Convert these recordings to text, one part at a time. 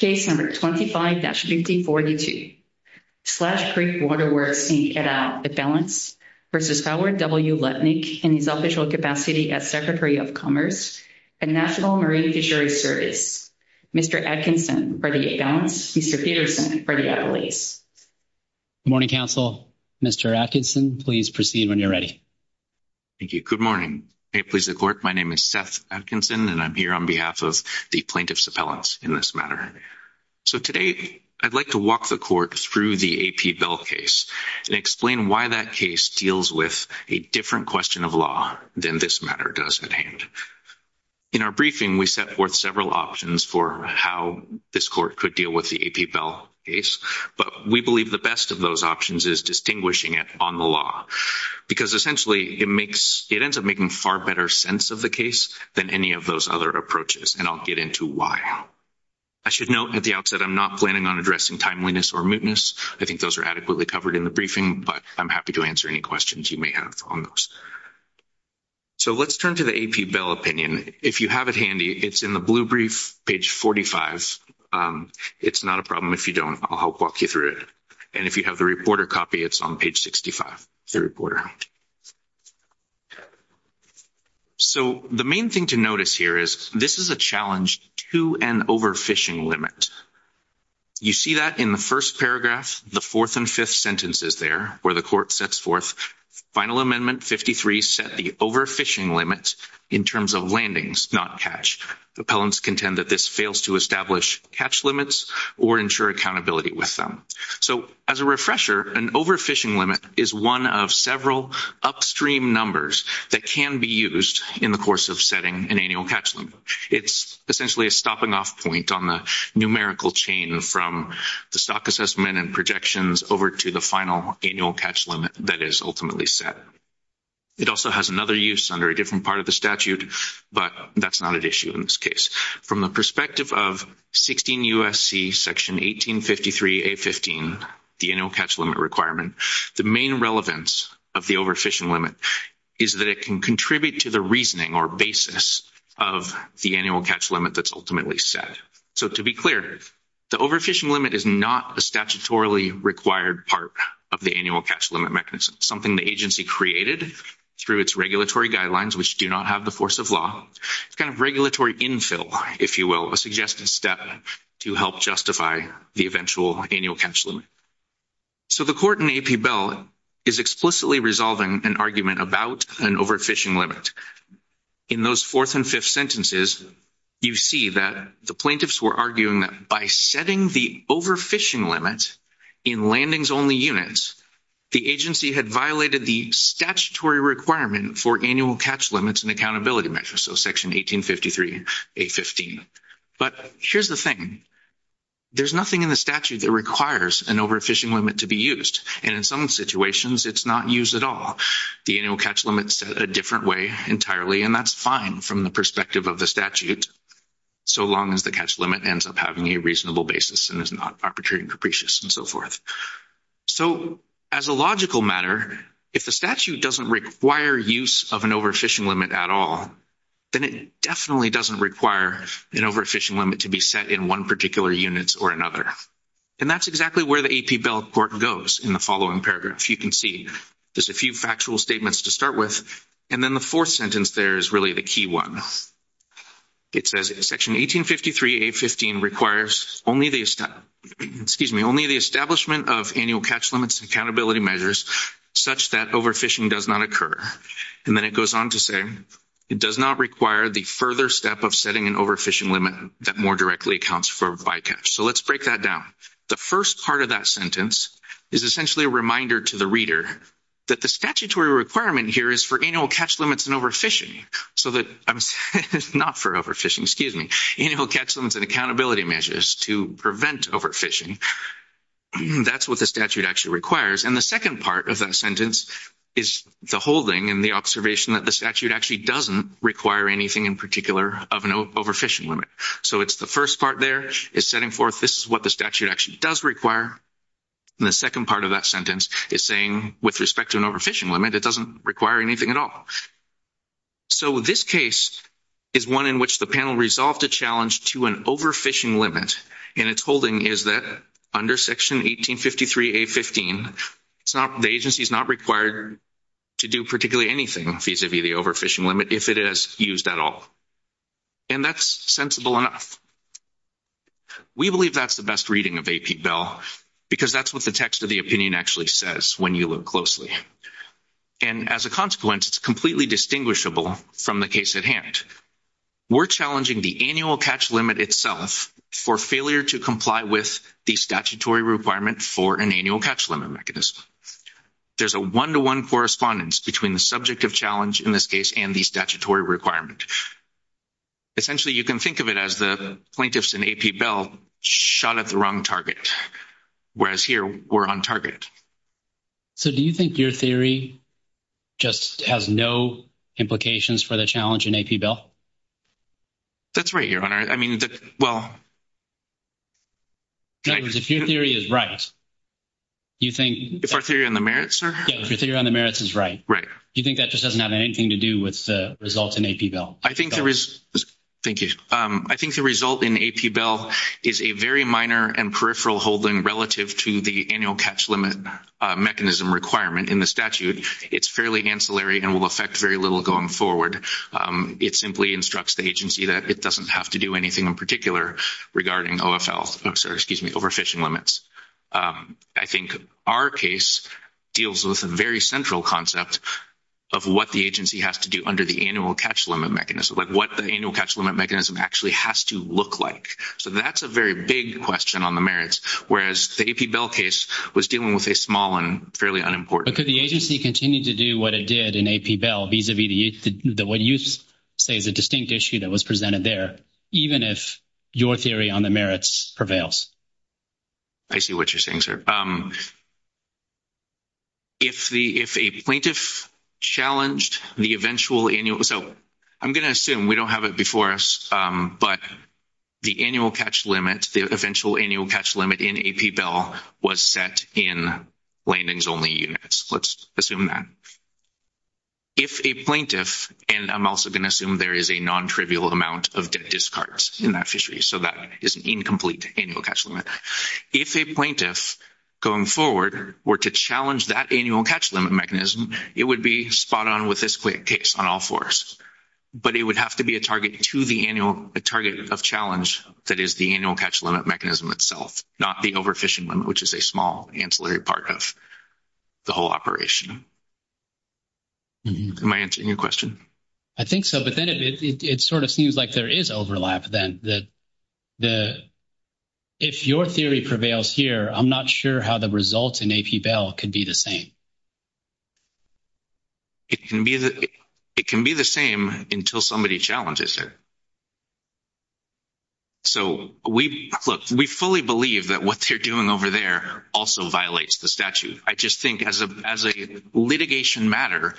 v. Howard W. Lutnick, in his official capacity as Secretary of Commerce and National Marine Fisheries Service, Mr. Atkinson, for the at-balance, Mr. Peterson, for the at-release. Good morning, counsel. Mr. Atkinson, please proceed when you're ready. Thank you. Good morning. May it please the Court, my name is Seth Atkinson, and I'm here on behalf of the plaintiffs' appellants in this matter. So today, I'd like to walk the Court through the A.P. Bell case and explain why that case deals with a different question of law than this matter does at hand. In our briefing, we set forth several options for how this Court could deal with the A.P. Bell case, but we believe the best of those options is distinguishing it on the law. Because essentially, it ends up making far better sense of the case than any of those other approaches, and I'll get into why. I should note at the outset, I'm not planning on addressing timeliness or mootness. I think those are adequately covered in the briefing, but I'm happy to answer any questions you may have on those. So let's turn to the A.P. Bell opinion. If you have it handy, it's in the blue brief, page 45. It's not a problem if you don't. I'll help walk you through it. And if you have the reporter copy, it's on page 65. So the main thing to notice here is this is a challenge to an overfishing limit. You see that in the first paragraph, the fourth and fifth sentences there, where the Court sets forth Final Amendment 53 set the overfishing limit in terms of landings, not catch. Appellants contend that this fails to establish catch limits or ensure accountability with them. So as a refresher, an overfishing limit is one of several upstream numbers that can be used in the course of setting an annual catch limit. It's essentially a stopping off point on the numerical chain from the stock assessment and projections over to the final annual catch limit that is ultimately set. It also has another use under a different part of the statute, but that's not an issue in this case. From the perspective of 16 U.S.C. section 1853A.15, the annual catch limit requirement, the main relevance of the overfishing limit is that it can contribute to the reasoning or basis of the annual catch limit that's ultimately set. So to be clear, the overfishing limit is not a statutorily required part of the annual catch limit mechanism. It's something the agency created through its regulatory guidelines, which do not have the force of law. It's kind of regulatory infill, if you will, a suggested step to help justify the eventual annual catch limit. So the Court in AP Bell is explicitly resolving an argument about an overfishing limit. In those fourth and fifth sentences, you see that the plaintiffs were arguing that by setting the overfishing limit in landings-only units, the agency had violated the statutory requirement for annual catch limits and accountability measures, so section 1853A.15. But here's the thing. There's nothing in the statute that requires an overfishing limit to be used, and in some situations, it's not used at all. The annual catch limit is set a different way entirely, and that's fine from the perspective of the statute, so long as the catch limit ends up having a reasonable basis and is not arbitrary and capricious and so forth. So as a logical matter, if the statute doesn't require use of an overfishing limit at all, then it definitely doesn't require an overfishing limit to be set in one particular unit or another. And that's exactly where the AP Bell Court goes in the following paragraph. You can see there's a few factual statements to start with, and then the fourth sentence there is really the key one. It says section 1853A.15 requires only the establishment of annual catch limits and accountability measures such that overfishing does not occur. And then it goes on to say it does not require the further step of setting an overfishing limit that more directly accounts for bycatch. So let's break that down. The first part of that sentence is essentially a reminder to the reader that the statutory requirement here is for annual catch limits and overfishing, not for overfishing, excuse me, annual catch limits and accountability measures to prevent overfishing. That's what the statute actually requires. And the second part of that sentence is the holding and the observation that the statute actually doesn't require anything in particular of an overfishing limit. So it's the first part there is setting forth this is what the statute actually does require. And the second part of that sentence is saying with respect to an overfishing limit, it doesn't require anything at all. So this case is one in which the panel resolved a challenge to an overfishing limit. And its holding is that under section 1853A.15, the agency is not required to do particularly anything vis-à-vis the overfishing limit if it is used at all. And that's sensible enough. We believe that's the best reading of AP Bell because that's what the text of the opinion actually says when you look closely. And as a consequence, it's completely distinguishable from the case at hand. We're challenging the annual catch limit itself for failure to comply with the statutory requirement for an annual catch limit mechanism. There's a one-to-one correspondence between the subject of challenge in this case and the statutory requirement. Essentially, you can think of it as the plaintiffs in AP Bell shot at the wrong target, whereas here we're on target. So do you think your theory just has no implications for the challenge in AP Bell? That's right, Your Honor. In other words, if your theory is right, you think that just doesn't have anything to do with the results in AP Bell? Thank you. I think the result in AP Bell is a very minor and peripheral holding relative to the annual catch limit mechanism requirement in the statute. It's fairly ancillary and will affect very little going forward. It simply instructs the agency that it doesn't have to do anything in particular regarding overfishing limits. I think our case deals with a very central concept of what the agency has to do under the annual catch limit mechanism, like what the annual catch limit mechanism actually has to look like. So that's a very big question on the merits, whereas the AP Bell case was dealing with a small and fairly unimportant. But could the agency continue to do what it did in AP Bell vis-a-vis what you say is a distinct issue that was presented there, even if your theory on the merits prevails? I see what you're saying, sir. If a plaintiff challenged the eventual annual – so I'm going to assume we don't have it before us, but the annual catch limit, the eventual annual catch limit in AP Bell was set in landings-only units. Let's assume that. If a plaintiff – and I'm also going to assume there is a non-trivial amount of debt discards in that fishery, so that is an incomplete annual catch limit. If a plaintiff going forward were to challenge that annual catch limit mechanism, it would be spot on with this case on all fours. But it would have to be a target to the annual – a target of challenge that is the annual catch limit mechanism itself, not the overfishing limit, which is a small ancillary part of the whole operation. Am I answering your question? I think so, but then it sort of seems like there is overlap then. If your theory prevails here, I'm not sure how the results in AP Bell could be the same. It can be the same until somebody challenges it. So we – look, we fully believe that what they're doing over there also violates the statute. I just think as a litigation matter,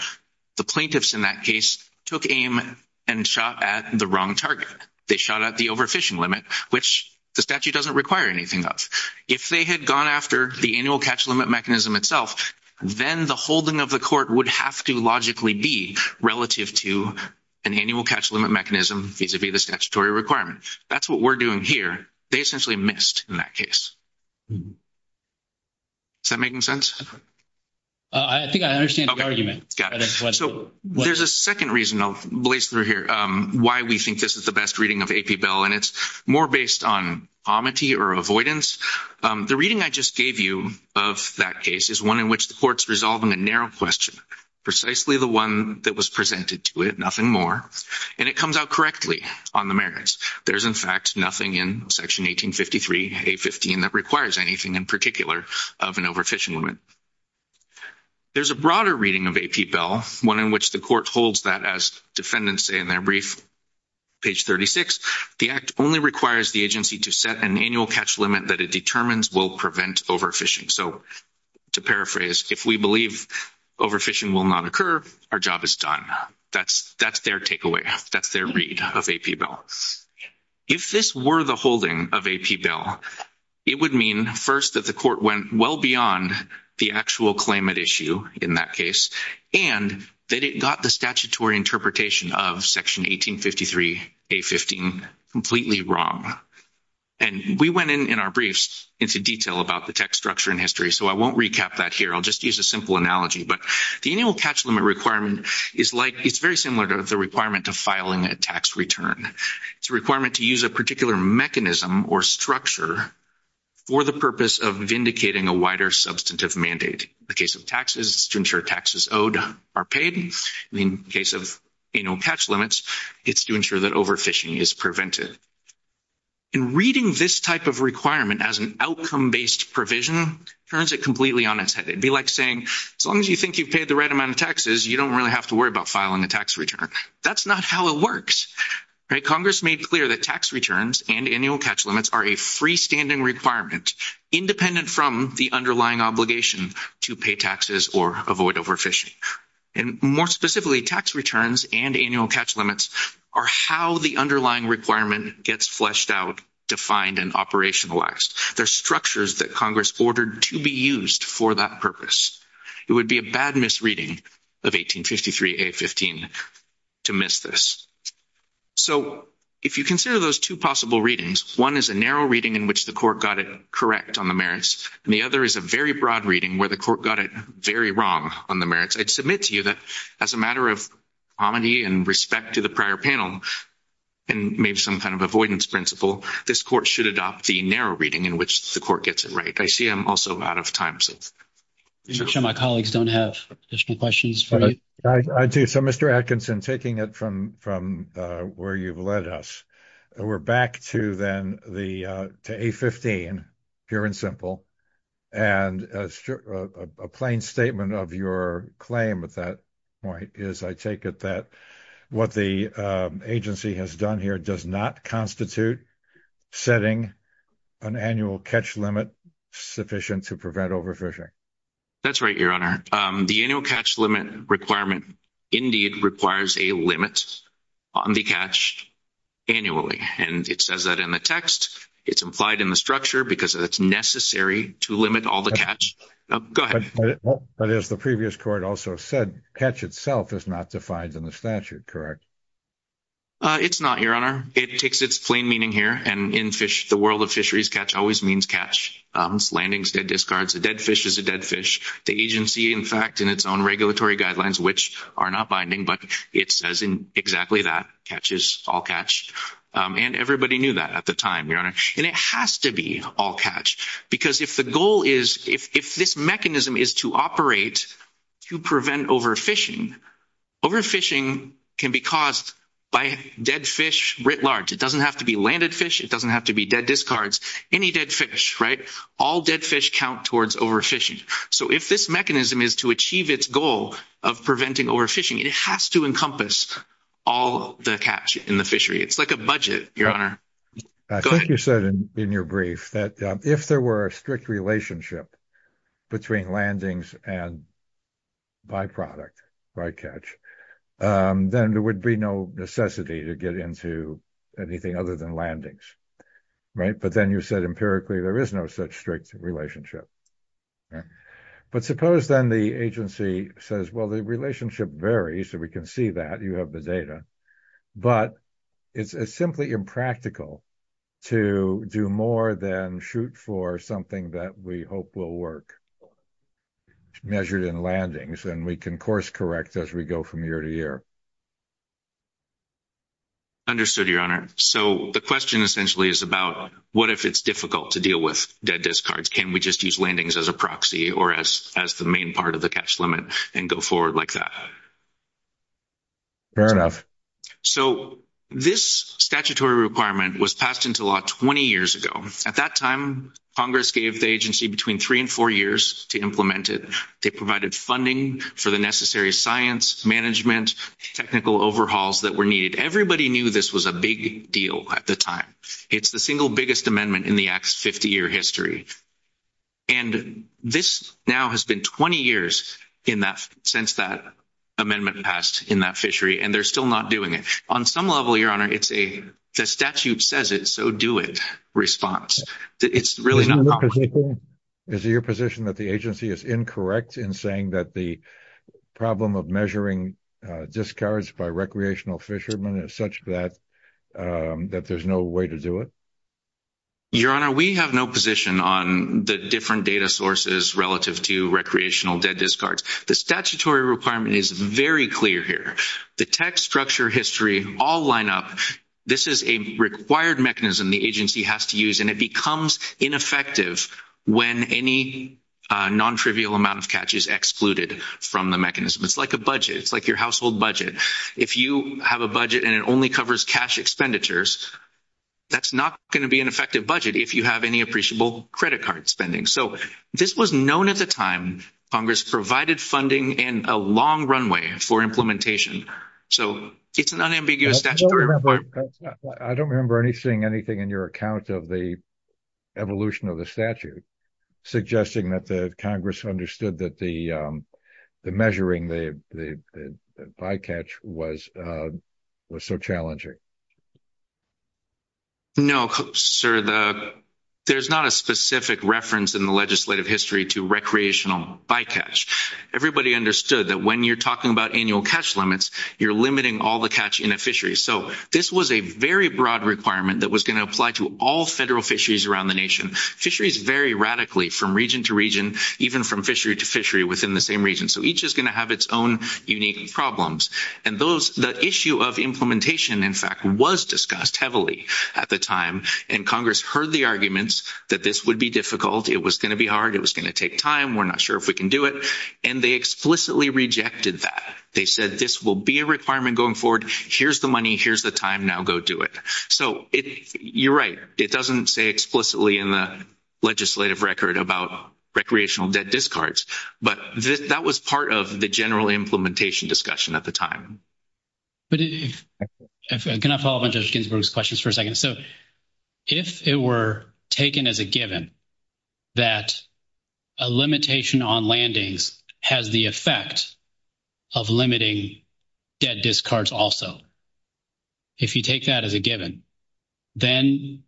the plaintiffs in that case took aim and shot at the wrong target. They shot at the overfishing limit, which the statute doesn't require anything of. If they had gone after the annual catch limit mechanism itself, then the holding of the court would have to logically be relative to an annual catch limit mechanism vis-a-vis the statutory requirement. That's what we're doing here. They essentially missed in that case. Is that making sense? I think I understand the argument. So there's a second reason I'll blaze through here why we think this is the best reading of AP Bell, and it's more based on omity or avoidance. The reading I just gave you of that case is one in which the court's resolving a narrow question, precisely the one that was presented to it, nothing more, and it comes out correctly on the merits. There's, in fact, nothing in Section 1853A15 that requires anything in particular of an overfishing limit. There's a broader reading of AP Bell, one in which the court holds that as defendants say in their brief, page 36, the Act only requires the agency to set an annual catch limit that it determines will prevent overfishing. So to paraphrase, if we believe overfishing will not occur, our job is done. That's their takeaway. That's their read of AP Bell. If this were the holding of AP Bell, it would mean, first, that the court went well beyond the actual claimant issue in that case, and that it got the statutory interpretation of Section 1853A15 completely wrong. And we went in, in our briefs, into detail about the text structure and history, so I won't recap that here. I'll just use a simple analogy, but the annual catch limit requirement is like, it's very similar to the requirement of filing a tax return. It's a requirement to use a particular mechanism or structure for the purpose of vindicating a wider substantive mandate. In the case of taxes, it's to ensure taxes owed are paid. In the case of annual catch limits, it's to ensure that overfishing is prevented. And reading this type of requirement as an outcome-based provision turns it completely on its head. It would be like saying, as long as you think you've paid the right amount of taxes, you don't really have to worry about filing a tax return. That's not how it works. Congress made clear that tax returns and annual catch limits are a freestanding requirement, independent from the underlying obligation to pay taxes or avoid overfishing. And more specifically, tax returns and annual catch limits are how the underlying requirement gets fleshed out, defined, and operationalized. They're structures that Congress ordered to be used for that purpose. It would be a bad misreading of 1853A15 to miss this. So if you consider those two possible readings, one is a narrow reading in which the court got it correct on the merits, and the other is a very broad reading where the court got it very wrong on the merits, I'd submit to you that as a matter of hominy and respect to the prior panel and maybe some kind of avoidance principle, this court should adopt the narrow reading in which the court gets it right. I see I'm also out of time. I'm sure my colleagues don't have additional questions for you. I do. So, Mr. Atkinson, taking it from where you've led us, we're back to then to A15, pure and simple. And a plain statement of your claim at that point is I take it that what the agency has done here does not constitute setting an annual catch limit sufficient to prevent overfishing. That's right, Your Honor. The annual catch limit requirement indeed requires a limit on the catch annually. And it says that in the text. It's implied in the structure because it's necessary to limit all the catch. Go ahead. But as the previous court also said, catch itself is not defined in the statute, correct? It's not, Your Honor. It takes its plain meaning here. And in the world of fisheries, catch always means catch. It's landings, dead discards. A dead fish is a dead fish. The agency, in fact, in its own regulatory guidelines, which are not binding, but it says exactly that. Catch is all catch. And everybody knew that at the time, Your Honor. And it has to be all catch because if the goal is, if this mechanism is to operate to prevent overfishing, overfishing can be caused by dead fish writ large. It doesn't have to be landed fish. It doesn't have to be dead discards. Any dead fish, right? All dead fish count towards overfishing. So if this mechanism is to achieve its goal of preventing overfishing, it has to encompass all the catch in the fishery. It's like a budget, Your Honor. Go ahead. I think you said in your brief that if there were a strict relationship between landings and byproduct, right, catch, then there would be no necessity to get into anything other than landings, right? But then you said empirically there is no such strict relationship. But suppose then the agency says, well, the relationship varies. We can see that. You have the data. But it's simply impractical to do more than shoot for something that we hope will work measured in landings, and we can course correct as we go from year to year. Understood, Your Honor. So the question essentially is about what if it's difficult to deal with dead discards? Can we just use landings as a proxy or as the main part of the catch limit and go forward like that? Fair enough. So this statutory requirement was passed into law 20 years ago. At that time, Congress gave the agency between three and four years to implement it. They provided funding for the necessary science, management, technical overhauls that were needed. Everybody knew this was a big deal at the time. It's the single biggest amendment in the Act's 50-year history. And this now has been 20 years since that amendment passed in that fishery, and they're still not doing it. On some level, Your Honor, it's a statute says it, so do it response. It's really not possible. Is it your position that the agency is incorrect in saying that the problem of measuring discards by recreational fishermen is such that there's no way to do it? Your Honor, we have no position on the different data sources relative to recreational dead discards. The statutory requirement is very clear here. The text, structure, history all line up. This is a required mechanism the agency has to use, and it becomes ineffective when any non-trivial amount of catch is excluded from the mechanism. It's like a budget. It's like your household budget. If you have a budget and it only covers cash expenditures, that's not going to be an effective budget if you have any appreciable credit card spending. So this was known at the time Congress provided funding and a long runway for implementation. So it's an unambiguous statutory requirement. I don't remember seeing anything in your account of the evolution of the statute suggesting that Congress understood that the measuring the bycatch was so challenging. No, sir. There's not a specific reference in the legislative history to recreational bycatch. Everybody understood that when you're talking about annual catch limits, you're limiting all the catch in a fishery. So this was a very broad requirement that was going to apply to all federal fisheries around the nation. Fisheries vary radically from region to region, even from fishery to fishery within the same region. So each is going to have its own unique problems. And the issue of implementation, in fact, was discussed heavily at the time, and Congress heard the arguments that this would be difficult. It was going to be hard. It was going to take time. We're not sure if we can do it. And they explicitly rejected that. They said this will be a requirement going forward. Here's the money. Here's the time. Now go do it. So you're right. It doesn't say explicitly in the legislative record about recreational debt discards. But that was part of the general implementation discussion at the time. But if – can I follow up on Judge Ginsburg's questions for a second? So if it were taken as a given that a limitation on landings has the effect of limiting debt discards also, if you take that as a given, then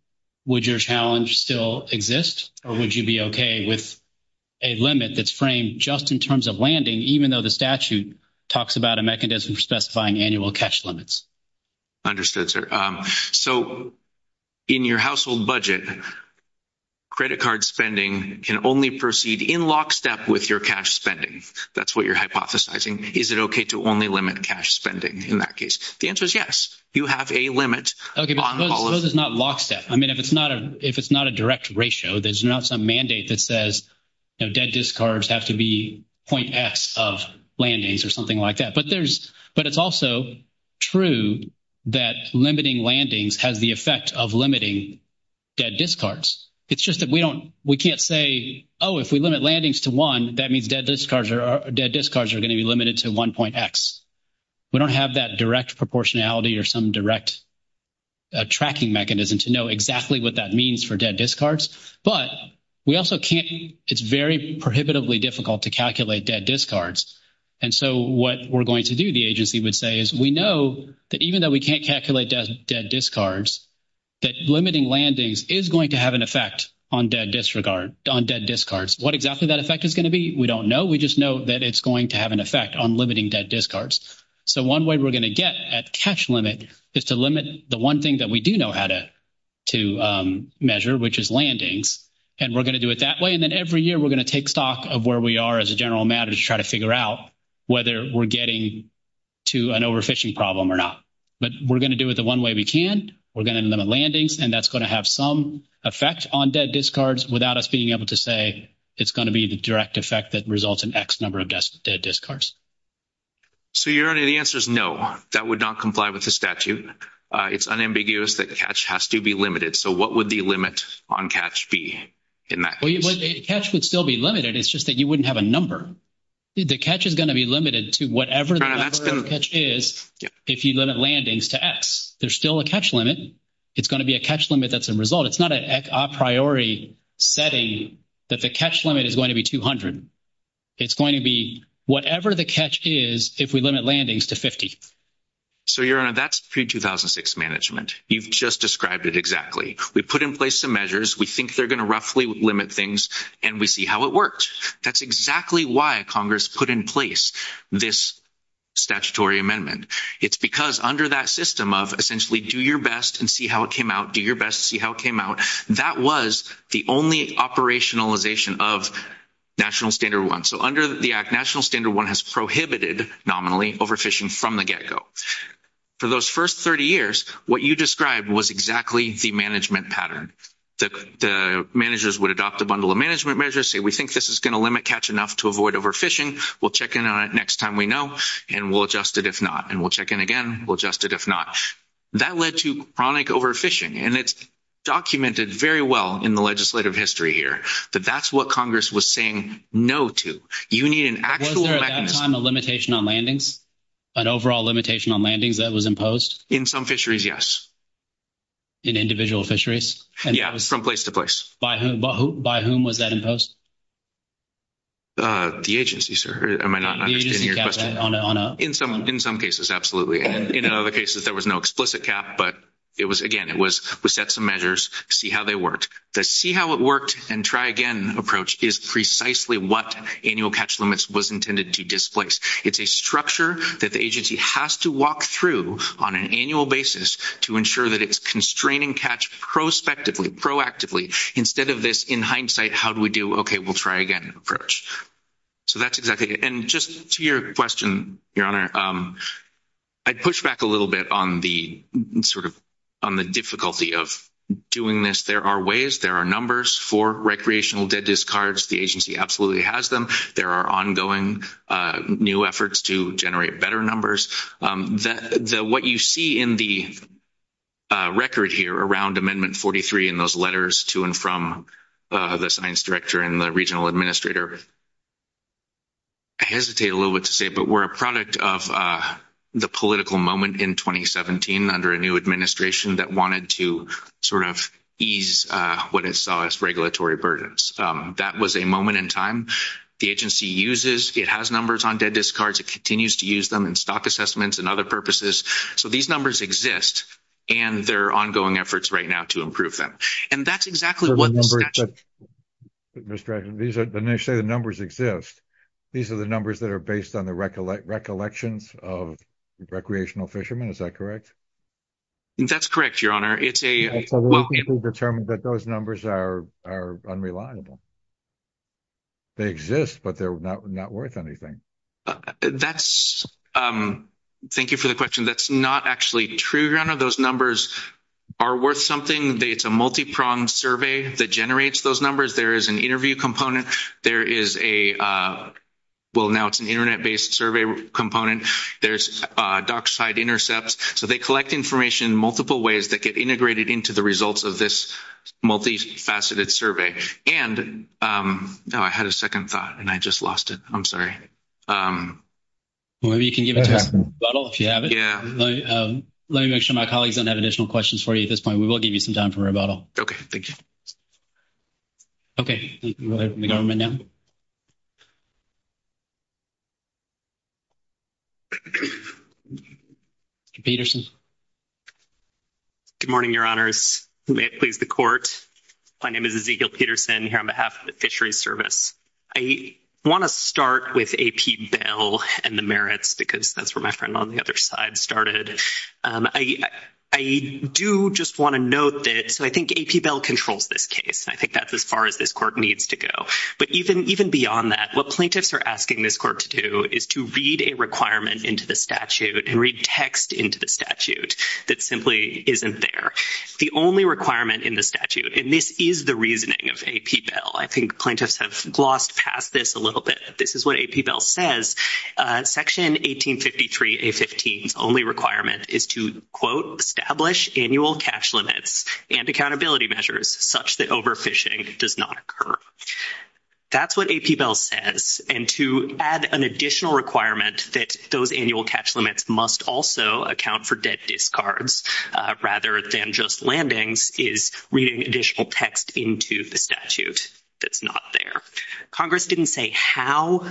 would your challenge still exist, or would you be okay with a limit that's framed just in terms of landing, even though the statute talks about a mechanism for specifying annual cash limits? Understood, sir. So in your household budget, credit card spending can only proceed in lockstep with your cash spending. That's what you're hypothesizing. Is it okay to only limit cash spending in that case? The answer is yes. You have a limit. Okay, but suppose it's not lockstep. I mean, if it's not a direct ratio, there's not some mandate that says debt discards have to be .X of landings or something like that. But there's – but it's also true that limiting landings has the effect of limiting debt discards. It's just that we don't – we can't say, oh, if we limit landings to one, that means debt discards are going to be limited to 1.X. We don't have that direct proportionality or some direct tracking mechanism to know exactly what that means for debt discards. But we also can't – it's very prohibitively difficult to calculate debt discards. And so what we're going to do, the agency would say, is we know that even though we can't calculate debt discards, that limiting landings is going to have an effect on debt disregard – on debt discards. What exactly that effect is going to be, we don't know. We just know that it's going to have an effect on limiting debt discards. So one way we're going to get at cash limit is to limit the one thing that we do know how to measure, which is landings. And we're going to do it that way. And then every year we're going to take stock of where we are as a general matter to try to figure out whether we're getting to an overfishing problem or not. But we're going to do it the one way we can. We're going to limit landings. And that's going to have some effect on debt discards without us being able to say it's going to be the direct effect that results in X number of debt discards. So your answer is no. That would not comply with the statute. It's unambiguous that cash has to be limited. So what would the limit on cash be in that case? Cash would still be limited. It's just that you wouldn't have a number. The cash is going to be limited to whatever the number of cash is if you limit landings to X. There's still a cash limit. It's going to be a cash limit that's a result. It's not a priori setting that the cash limit is going to be 200. It's going to be whatever the cash is if we limit landings to 50. So, Your Honor, that's pre-2006 management. You've just described it exactly. We put in place some measures. We think they're going to roughly limit things, and we see how it works. That's exactly why Congress put in place this statutory amendment. It's because under that system of essentially do your best and see how it came out, do your best to see how it came out, that was the only operationalization of National Standard 1. So under the Act, National Standard 1 has prohibited nominally overfishing from the get-go. For those first 30 years, what you described was exactly the management pattern. The managers would adopt a bundle of management measures, say we think this is going to limit catch enough to avoid overfishing. We'll check in on it next time we know, and we'll adjust it if not, and we'll check in again, we'll adjust it if not. That led to chronic overfishing, and it's documented very well in the legislative history here that that's what Congress was saying no to. You need an actual mechanism. Was there sometime a limitation on landings, an overall limitation on landings that was imposed? In some fisheries, yes. In individual fisheries? Yeah, from place to place. By whom was that imposed? The agency, sir. I might not understand your question. In some cases, absolutely. In other cases, there was no explicit cap, but again, it was we set some measures, see how they worked. The see-how-it-worked-and-try-again approach is precisely what annual catch limits was intended to displace. It's a structure that the agency has to walk through on an annual basis to ensure that it's constraining catch prospectively, proactively. Instead of this in hindsight, how do we do, okay, we'll try again approach. So that's exactly it. And just to your question, Your Honor, I'd push back a little bit on the sort of on the difficulty of doing this. There are ways, there are numbers for recreational dead discards. The agency absolutely has them. There are ongoing new efforts to generate better numbers. What you see in the record here around Amendment 43 in those letters to and from the science director and the regional administrator, I hesitate a little bit to say it, but we're a product of the political moment in 2017 under a new administration that wanted to sort of ease what it saw as regulatory burdens. That was a moment in time. The agency uses, it has numbers on dead discards. It continues to use them in stock assessments and other purposes. So these numbers exist, and there are ongoing efforts right now to improve them. And that's exactly what the statute. Mr. These are initially the numbers exist. These are the numbers that are based on the recollections of recreational fishermen. Is that correct? That's correct, Your Honor. It's a determined that those numbers are unreliable. They exist, but they're not worth anything. That's thank you for the question. That's not actually true. Those numbers are worth something. It's a multi-pronged survey that generates those numbers. There is an interview component. There is a, well, now it's an Internet-based survey component. There's dockside intercepts. So they collect information in multiple ways that get integrated into the results of this multifaceted survey. And I had a second thought, and I just lost it. I'm sorry. Well, maybe you can give it to us in rebuttal if you have it. Yeah. Let me make sure my colleagues don't have additional questions for you at this point. We will give you some time for rebuttal. Okay. Thank you. Okay. We'll let the government now. Mr. Peterson. Good morning, Your Honors. May it please the Court. My name is Ezekiel Peterson here on behalf of the Fisheries Service. I want to start with A.P. Bell and the merits because that's where my friend on the other side started. I do just want to note that, so I think A.P. Bell controls this case. I think that's as far as this Court needs to go. But even beyond that, what plaintiffs are asking this Court to do is to read a requirement into the statute and read text into the statute that simply isn't there. The only requirement in the statute, and this is the reasoning of A.P. Bell. I think plaintiffs have glossed past this a little bit. This is what A.P. Bell says. Section 1853A15's only requirement is to, quote, establish annual catch limits and accountability measures such that overfishing does not occur. That's what A.P. Bell says. And to add an additional requirement that those annual catch limits must also account for debt discards rather than just landings is reading additional text into the statute that's not there. Congress didn't say how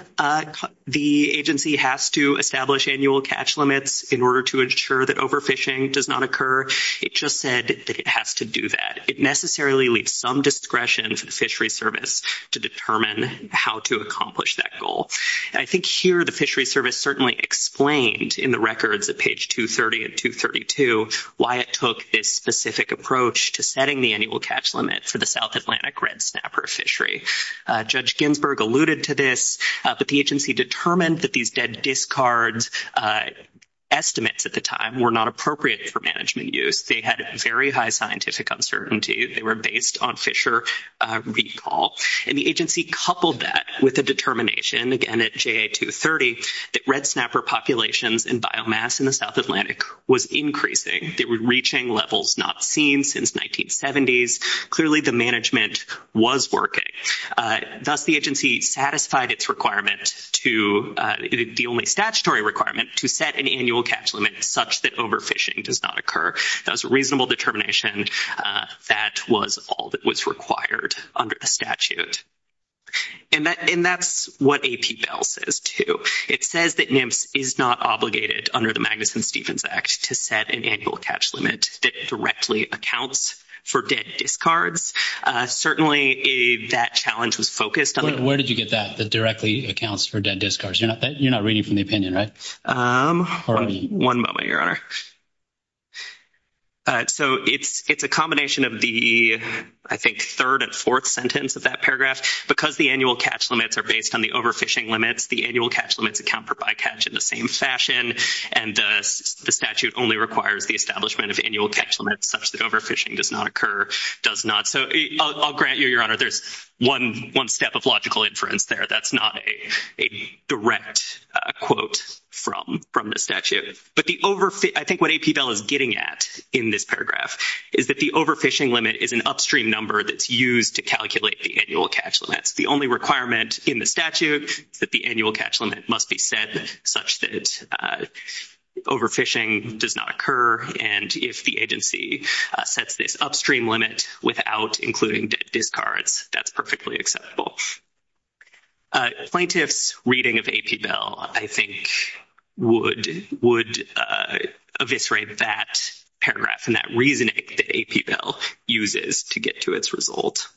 the agency has to establish annual catch limits in order to ensure that overfishing does not occur. It just said that it has to do that. It necessarily leaves some discretion for the fishery service to determine how to accomplish that goal. I think here the fishery service certainly explained in the records at page 230 and 232 why it took this specific approach to setting the annual catch limit for the South Atlantic red snapper fishery. Judge Ginsburg alluded to this, but the agency determined that these debt discards estimates at the time were not appropriate for management use. They had very high scientific uncertainty. They were based on fisher recall. And the agency coupled that with a determination, again at JA 230, that red snapper populations and biomass in the South Atlantic was increasing. They were reaching levels not seen since 1970s. Clearly the management was working. Thus, the agency satisfied its requirement to, the only statutory requirement, to set an annual catch limit such that overfishing does not occur. That was a reasonable determination. That was all that was required under the statute. And that's what AP Bell says, too. It says that NIMS is not obligated under the Magnuson-Stevens Act to set an annual catch limit that directly accounts for debt discards. Certainly that challenge was focused on the – Where did you get that, that directly accounts for debt discards? You're not reading from the opinion, right? One moment, Your Honor. So it's a combination of the, I think, third and fourth sentence of that paragraph. Because the annual catch limits are based on the overfishing limits, the annual catch limits account for bycatch in the same fashion. And the statute only requires the establishment of annual catch limits such that overfishing does not occur – does not. So I'll grant you, Your Honor, there's one step of logical inference there. That's not a direct quote from the statute. But the – I think what AP Bell is getting at in this paragraph is that the overfishing limit is an upstream number that's used to calculate the annual catch limits. The only requirement in the statute is that the annual catch limit must be set such that overfishing does not occur. And if the agency sets this upstream limit without including debt discards, that's perfectly acceptable. Plaintiff's reading of AP Bell, I think, would eviscerate that paragraph and that reasoning that AP Bell uses to get to its result.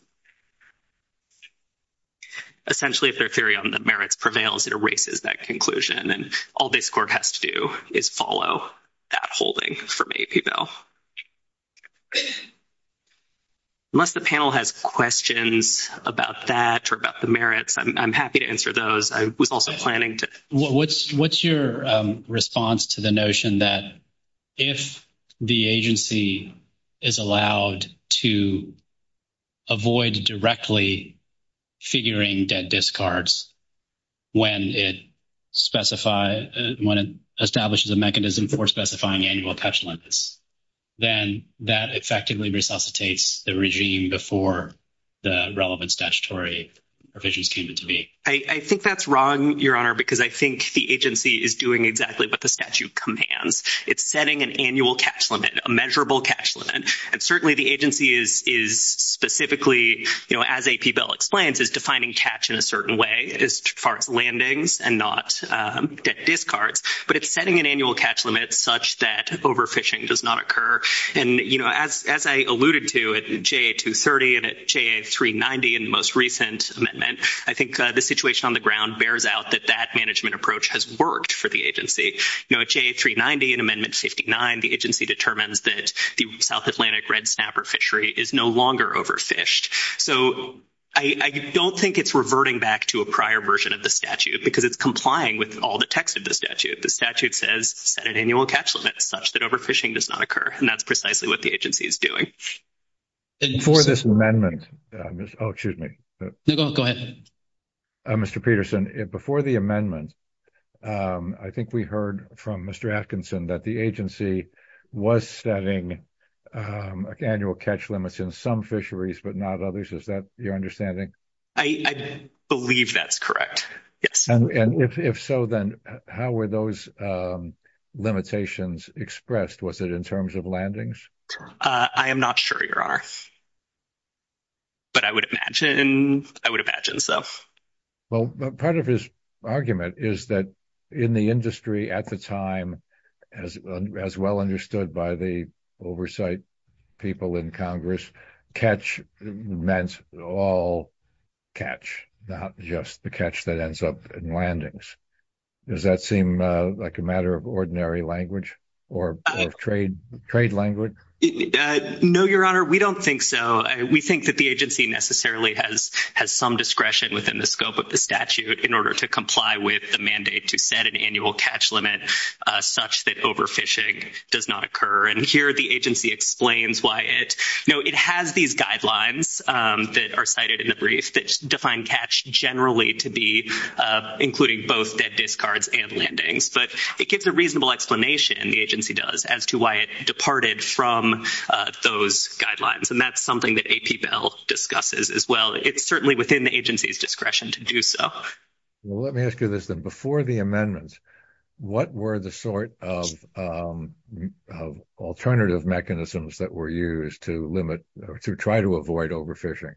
Essentially, if their theory on the merits prevails, it erases that conclusion. And all this court has to do is follow that holding from AP Bell. Unless the panel has questions about that or about the merits, I'm happy to answer those. What's your response to the notion that if the agency is allowed to avoid directly figuring debt discards when it establishes a mechanism for specifying annual catch limits, then that effectively resuscitates the regime before the relevant statutory provisions came into being? I think that's wrong, Your Honor, because I think the agency is doing exactly what the statute commands. It's setting an annual catch limit, a measurable catch limit. And certainly the agency is specifically, as AP Bell explains, is defining catch in a certain way as far as landings and not debt discards. But it's setting an annual catch limit such that overfishing does not occur. And, you know, as I alluded to at JA 230 and at JA 390 in the most recent amendment, I think the situation on the ground bears out that that management approach has worked for the agency. You know, at JA 390 in Amendment 59, the agency determines that the South Atlantic red snapper fishery is no longer overfished. So I don't think it's reverting back to a prior version of the statute because it's complying with all the text of the statute. The statute says set an annual catch limit such that overfishing does not occur. And that's precisely what the agency is doing. Before this amendment, oh, excuse me. No, go ahead. Mr. Peterson, before the amendment, I think we heard from Mr. Atkinson that the agency was setting annual catch limits in some fisheries but not others. Is that your understanding? I believe that's correct, yes. And if so, then how were those limitations expressed? Was it in terms of landings? I am not sure, Your Honor. But I would imagine so. Well, part of his argument is that in the industry at the time, as well understood by the oversight people in Congress, catch meant all catch, not just the catch that ends up in landings. Does that seem like a matter of ordinary language or trade language? No, Your Honor, we don't think so. We think that the agency necessarily has some discretion within the scope of the statute in order to comply with the mandate to set an annual catch limit such that overfishing does not occur. And here the agency explains why it – no, it has these guidelines that are cited in the brief that define catch generally to be including both dead discards and landings. But it gives a reasonable explanation, the agency does, as to why it departed from those guidelines. And that's something that AP Bell discusses as well. It's certainly within the agency's discretion to do so. Well, let me ask you this then. Before the amendments, what were the sort of alternative mechanisms that were used to limit or to try to avoid overfishing?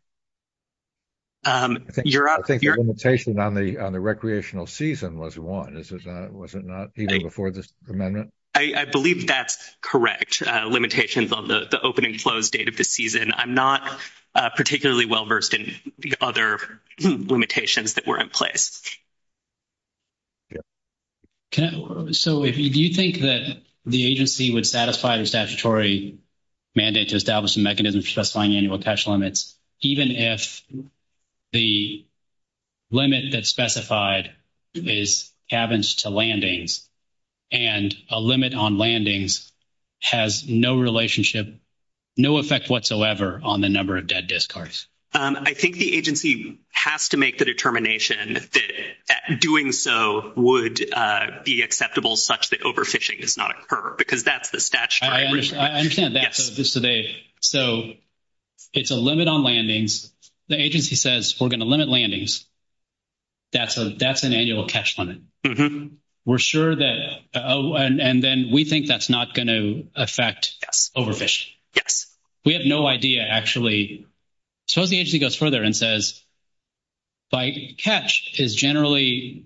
I think the limitation on the recreational season was one. Was it not even before this amendment? I believe that's correct, limitations on the opening closed date of the season. I'm not particularly well versed in the other limitations that were in place. So do you think that the agency would satisfy the statutory mandate to establish a mechanism for specifying annual catch limits, even if the limit that's specified is cabins to landings and a limit on landings has no relationship, no effect whatsoever on the number of dead discards? I think the agency has to make the determination that doing so would be acceptable such that overfishing does not occur, because that's the statute. I understand that. So it's a limit on landings. The agency says we're going to limit landings. That's an annual catch limit. We're sure that, oh, and then we think that's not going to affect overfishing. Yes. We have no idea, actually. Suppose the agency goes further and says catch is generally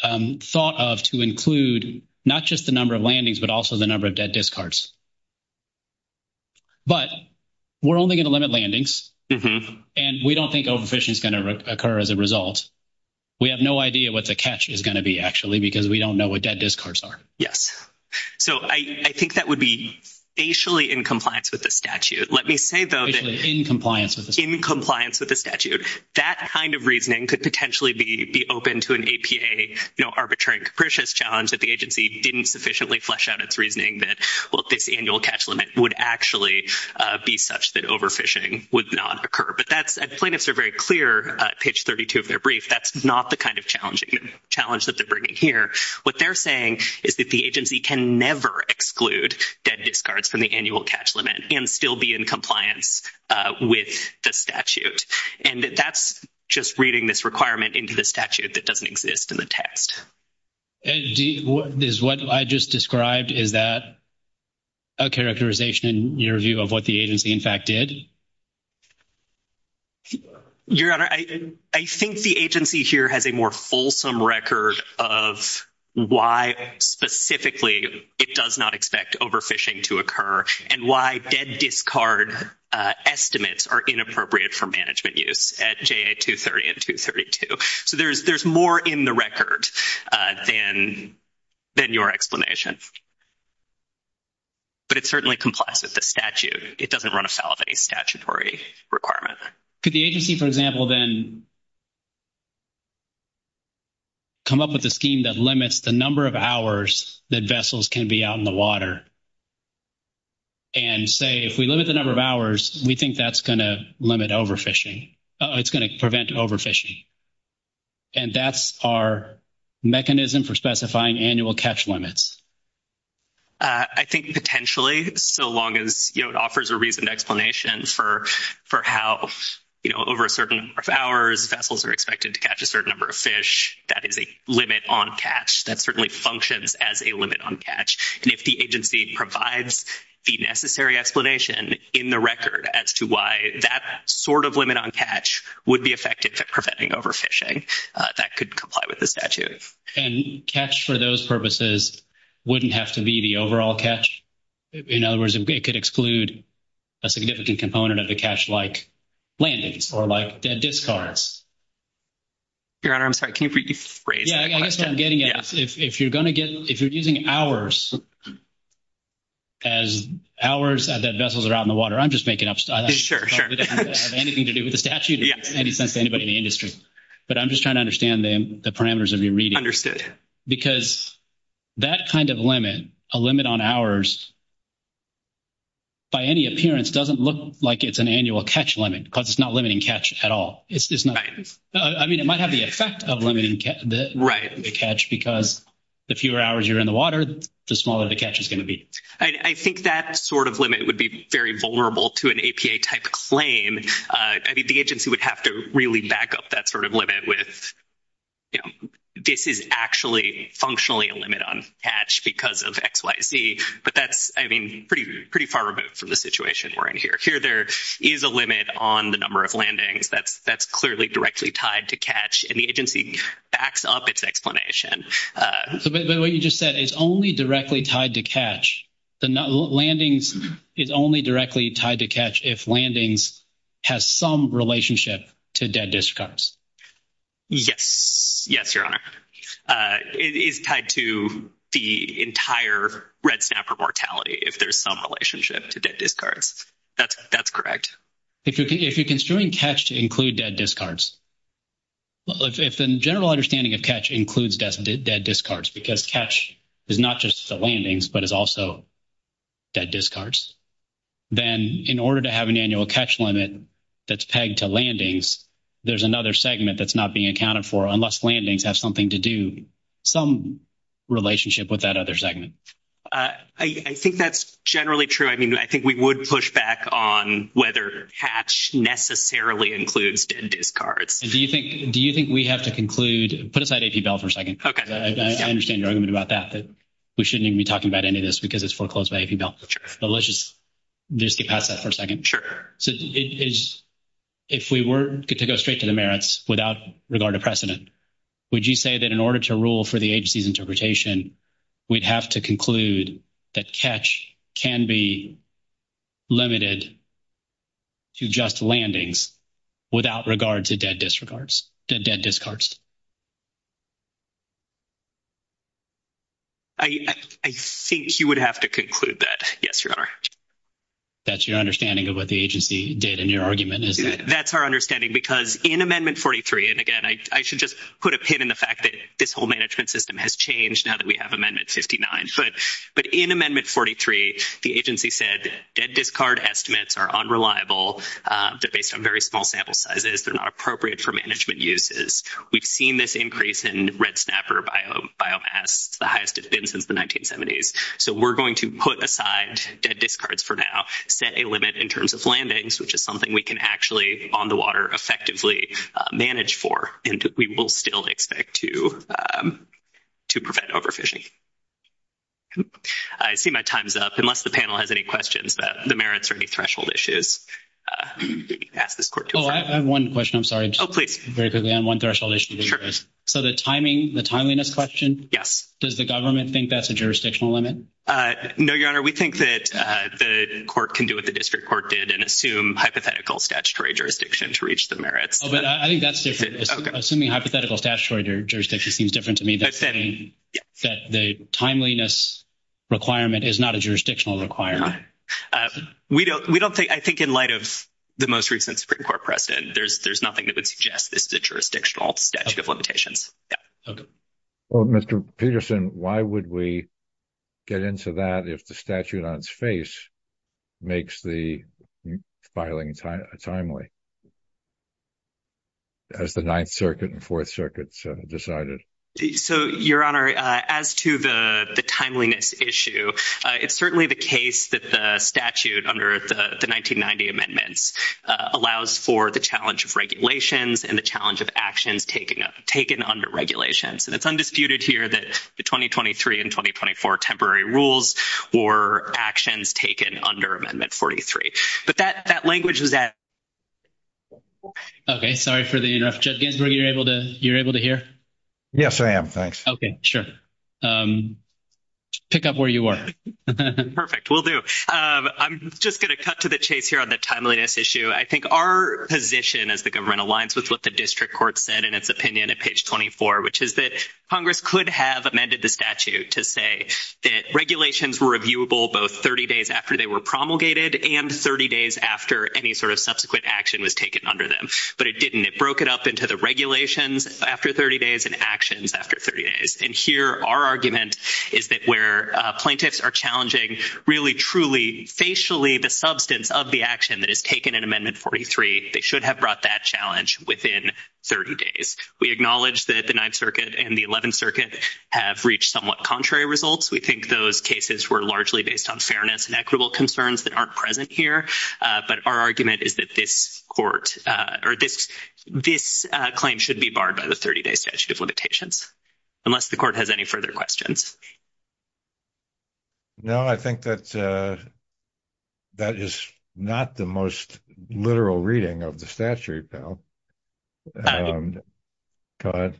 thought of to include not just the number of landings, but also the number of dead discards. But we're only going to limit landings, and we don't think overfishing is going to occur as a result. We have no idea what the catch is going to be, actually, because we don't know what dead discards are. Yes. So I think that would be facially in compliance with the statute. Facially in compliance with the statute. In compliance with the statute. That kind of reasoning could potentially be open to an APA, you know, arbitrary and capricious challenge that the agency didn't sufficiently flesh out its reasoning that, well, this annual catch limit would actually be such that overfishing would not occur. But plaintiffs are very clear at page 32 of their brief. That's not the kind of challenge that they're bringing here. What they're saying is that the agency can never exclude dead discards from the annual catch limit and still be in compliance with the statute. And that's just reading this requirement into the statute that doesn't exist in the text. Is what I just described, is that a characterization in your view of what the agency, in fact, did? Your Honor, I think the agency here has a more fulsome record of why specifically it does not expect overfishing to occur and why dead discard estimates are inappropriate for management use at JA 230 and 232. So there's more in the record than your explanation. But it certainly complies with the statute. It doesn't run afoul of any statutory requirement. Could the agency, for example, then come up with a scheme that limits the number of hours that vessels can be out in the water and say if we limit the number of hours, we think that's going to limit overfishing. It's going to prevent overfishing. And that's our mechanism for specifying annual catch limits. I think potentially, so long as it offers a reasoned explanation for how over a certain number of hours, vessels are expected to catch a certain number of fish, that is a limit on catch. That certainly functions as a limit on catch. And if the agency provides the necessary explanation in the record as to why that sort of limit on catch would be effective at preventing overfishing, that could comply with the statute. And catch for those purposes wouldn't have to be the overall catch. In other words, it could exclude a significant component of the catch like landings or like dead discards. Your Honor, I'm sorry. Can you rephrase that question? Yeah, I guess what I'm getting at is if you're going to get — if you're using hours as hours that vessels are out in the water, I'm just making up stuff. Sure, sure. I don't think it has anything to do with the statute. It makes no sense to anybody in the industry. But I'm just trying to understand the parameters of your reading. Because that kind of limit, a limit on hours, by any appearance doesn't look like it's an annual catch limit because it's not limiting catch at all. Right. I mean, it might have the effect of limiting the catch because the fewer hours you're in the water, the smaller the catch is going to be. I think that sort of limit would be very vulnerable to an APA-type claim. I mean, the agency would have to really back up that sort of limit with, you know, this is actually functionally a limit on catch because of X, Y, Z. But that's, I mean, pretty far removed from the situation we're in here. Here there is a limit on the number of landings. That's clearly directly tied to catch, and the agency backs up its explanation. But what you just said is only directly tied to catch. The landings is only directly tied to catch if landings has some relationship to dead discards. Yes. Yes, Your Honor. It is tied to the entire red snapper mortality if there's some relationship to dead discards. That's correct. If you're construing catch to include dead discards, if the general understanding of catch includes dead discards because catch is not just the landings but is also dead discards, then in order to have an annual catch limit that's pegged to landings, there's another segment that's not being accounted for unless landings have something to do, some relationship with that other segment. I think that's generally true. I mean, I think we would push back on whether catch necessarily includes dead discards. Do you think we have to conclude? Put aside AP Bell for a second. Okay. I understand your argument about that, that we shouldn't even be talking about any of this because it's foreclosed by AP Bell. Sure. But let's just get past that for a second. Sure. So if we were to go straight to the merits without regard to precedent, would you say that in order to rule for the agency's interpretation, we'd have to conclude that catch can be limited to just landings without regard to dead discards? I think you would have to conclude that, yes, Your Honor. That's your understanding of what the agency did in your argument, is it? That's our understanding because in Amendment 43, and again, I should just put a pin in the fact that this whole management system has changed now that we have Amendment 59. But in Amendment 43, the agency said that dead discard estimates are unreliable. They're based on very small sample sizes. They're not appropriate for management uses. We've seen this increase in red snapper biomass. It's the highest it's been since the 1970s. So we're going to put aside dead discards for now, set a limit in terms of landings, which is something we can actually on the water effectively manage for, and we will still expect to prevent overfishing. I see my time's up. Unless the panel has any questions about the merits or any threshold issues, ask this court to affirm. Oh, I have one question. I'm sorry. Oh, please. Very quickly on one threshold issue. So the timing, the timeliness question? Yes. Does the government think that's a jurisdictional limit? No, Your Honor. We think that the court can do what the district court did and assume hypothetical statutory jurisdiction to reach the merits. Oh, but I think that's different. Assuming hypothetical statutory jurisdiction seems different to me. That the timeliness requirement is not a jurisdictional requirement. We don't think, I think in light of the most recent Supreme Court precedent, there's nothing that would suggest this is a jurisdictional statute of limitations. Yeah. Okay. Well, Mr. Peterson, why would we get into that if the statute on its face makes the filing timely? As the Ninth Circuit and Fourth Circuit decided. So, Your Honor, as to the timeliness issue, it's certainly the case that the statute under the 1990 amendments allows for the challenge of regulations and the challenge of actions taken under regulations. And it's undisputed here that the 2023 and 2024 temporary rules were actions taken under Amendment 43. But that language was added. Okay. Sorry for the interrupt. Judge Ginsburg, you're able to hear? Yes, I am. Thanks. Okay. Sure. Pick up where you are. Perfect. Will do. I'm just going to cut to the chase here on the timeliness issue. I think our position as the government aligns with what the district court said in its opinion at page 24, which is that Congress could have amended the statute to say that regulations were reviewable both 30 days after they were promulgated and 30 days after any sort of subsequent action was taken under them. But it didn't. It broke it up into the regulations after 30 days and actions after 30 days. And here our argument is that where plaintiffs are challenging really, truly, facially the substance of the action that is taken in Amendment 43, they should have brought that challenge within 30 days. We acknowledge that the Ninth Circuit and the Eleventh Circuit have reached somewhat contrary results. We think those cases were largely based on fairness and equitable concerns that aren't present here. But our argument is that this court or this claim should be barred by the 30-day statute of limitations, unless the court has any further questions. No, I think that is not the most literal reading of the statute, Bill. Go ahead.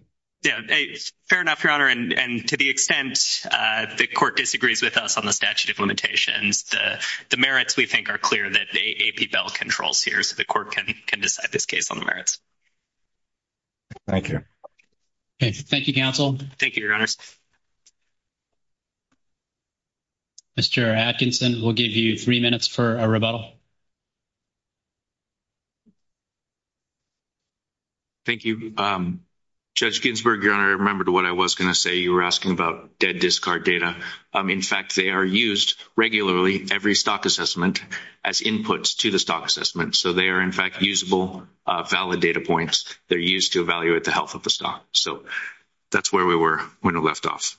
Fair enough, Your Honor. And to the extent the court disagrees with us on the statute of limitations, the merits, we think, are clear that AP Bell controls here, so the court can decide this case on the merits. Thank you. Thank you, counsel. Thank you, Your Honors. Mr. Atkinson, we'll give you three minutes for a rebuttal. Thank you. Judge Ginsburg, Your Honor, I remembered what I was going to say. You were asking about dead discard data. In fact, they are used regularly, every stock assessment, as inputs to the stock assessment. So they are, in fact, usable, valid data points. They're used to evaluate the health of the stock. So that's where we were when it left off.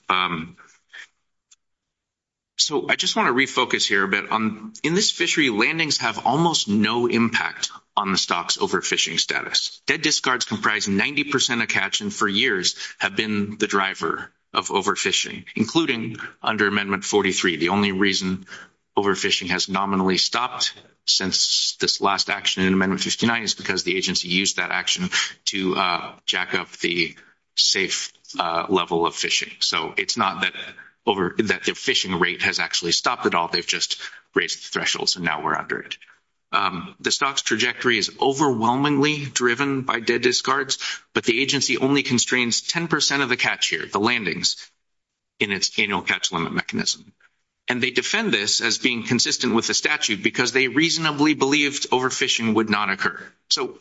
So I just want to refocus here a bit. In this fishery, landings have almost no impact on the stock's overfishing status. Dead discards comprise 90% of catch and, for years, have been the driver of overfishing, including under Amendment 43. The only reason overfishing has nominally stopped since this last action in Amendment 59 is because the agency used that action to jack up the safe level of fishing. So it's not that the fishing rate has actually stopped at all. They've just raised the thresholds, and now we're under it. The stock's trajectory is overwhelmingly driven by dead discards, but the agency only constrains 10% of the catch here, the landings, in its annual catch limit mechanism. And they defend this as being consistent with the statute because they reasonably believed overfishing would not occur. So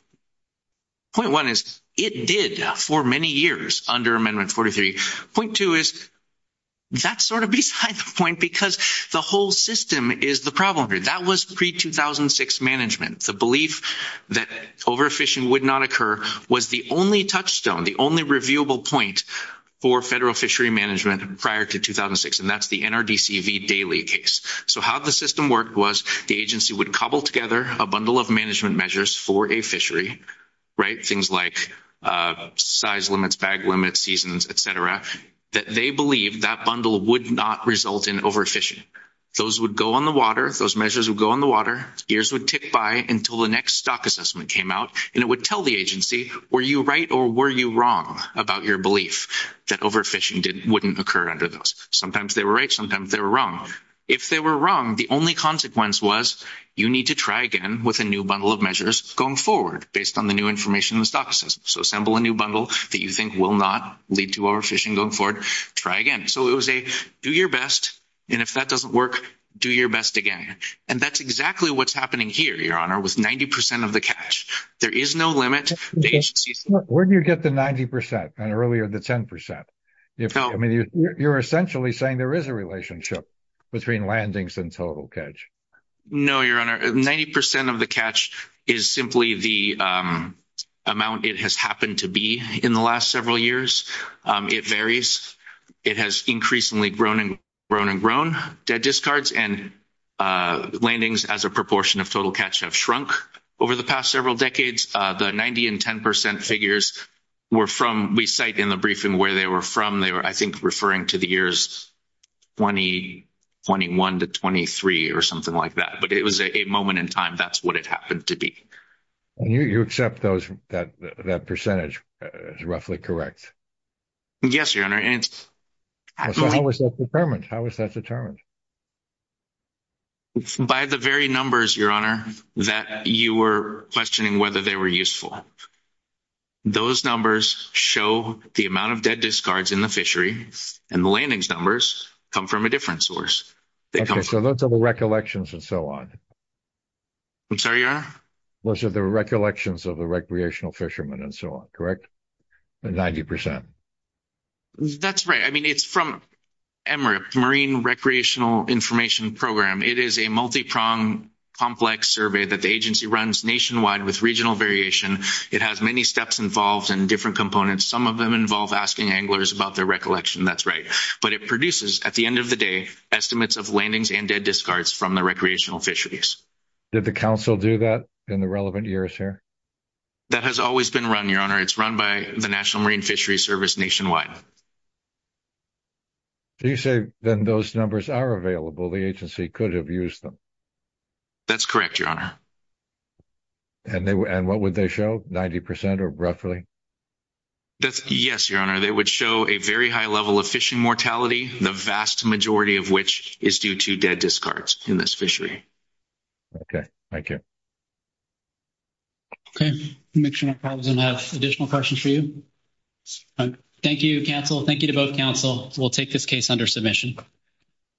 point one is it did for many years under Amendment 43. Point two is that's sort of beside the point because the whole system is the problem here. That was pre-2006 management. The belief that overfishing would not occur was the only touchstone, the only reviewable point for federal fishery management prior to 2006, and that's the NRDCV daily case. So how the system worked was the agency would cobble together a bundle of management measures for a fishery, right, things like size limits, bag limits, seasons, et cetera, that they believed that bundle would not result in overfishing. Those would go on the water. Those measures would go on the water. Years would tick by until the next stock assessment came out, and it would tell the agency were you right or were you wrong about your belief that overfishing wouldn't occur under those. Sometimes they were right. Sometimes they were wrong. If they were wrong, the only consequence was you need to try again with a new bundle of measures going forward based on the new information in the stock assessment. So assemble a new bundle that you think will not lead to overfishing going forward. Try again. So it was a do your best, and if that doesn't work, do your best again. And that's exactly what's happening here, Your Honor, with 90% of the catch. There is no limit. Where do you get the 90% and earlier the 10%? I mean, you're essentially saying there is a relationship between landings and total catch. No, Your Honor. Ninety percent of the catch is simply the amount it has happened to be in the last several years. It varies. It has increasingly grown and grown. Dead discards and landings as a proportion of total catch have shrunk over the past several decades. The 90% and 10% figures were from we cite in the briefing where they were from. They were, I think, referring to the years 2021 to 2023 or something like that. But it was a moment in time. That's what it happened to be. And you accept that percentage is roughly correct? Yes, Your Honor. How was that determined? How was that determined? By the very numbers, Your Honor, that you were questioning whether they were useful. Those numbers show the amount of dead discards in the fishery, and the landings numbers come from a different source. Okay, so those are the recollections and so on. I'm sorry, Your Honor? Those are the recollections of the recreational fishermen and so on, correct? 90%. That's right. I mean, it's from MRIP, Marine Recreational Information Program. It is a multipronged, complex survey that the agency runs nationwide with regional variation. It has many steps involved and different components. Some of them involve asking anglers about their recollection. That's right. But it produces, at the end of the day, estimates of landings and dead discards from the recreational fisheries. Did the council do that in the relevant years here? That has always been run, Your Honor. It's run by the National Marine Fisheries Service nationwide. So you say then those numbers are available. The agency could have used them. That's correct, Your Honor. And what would they show, 90% or roughly? Yes, Your Honor, they would show a very high level of fishing mortality, the vast majority of which is due to dead discards in this fishery. Okay, thank you. Okay, make sure my colleagues don't have additional questions for you. Thank you, counsel. Thank you to both counsel. We'll take this case under submission.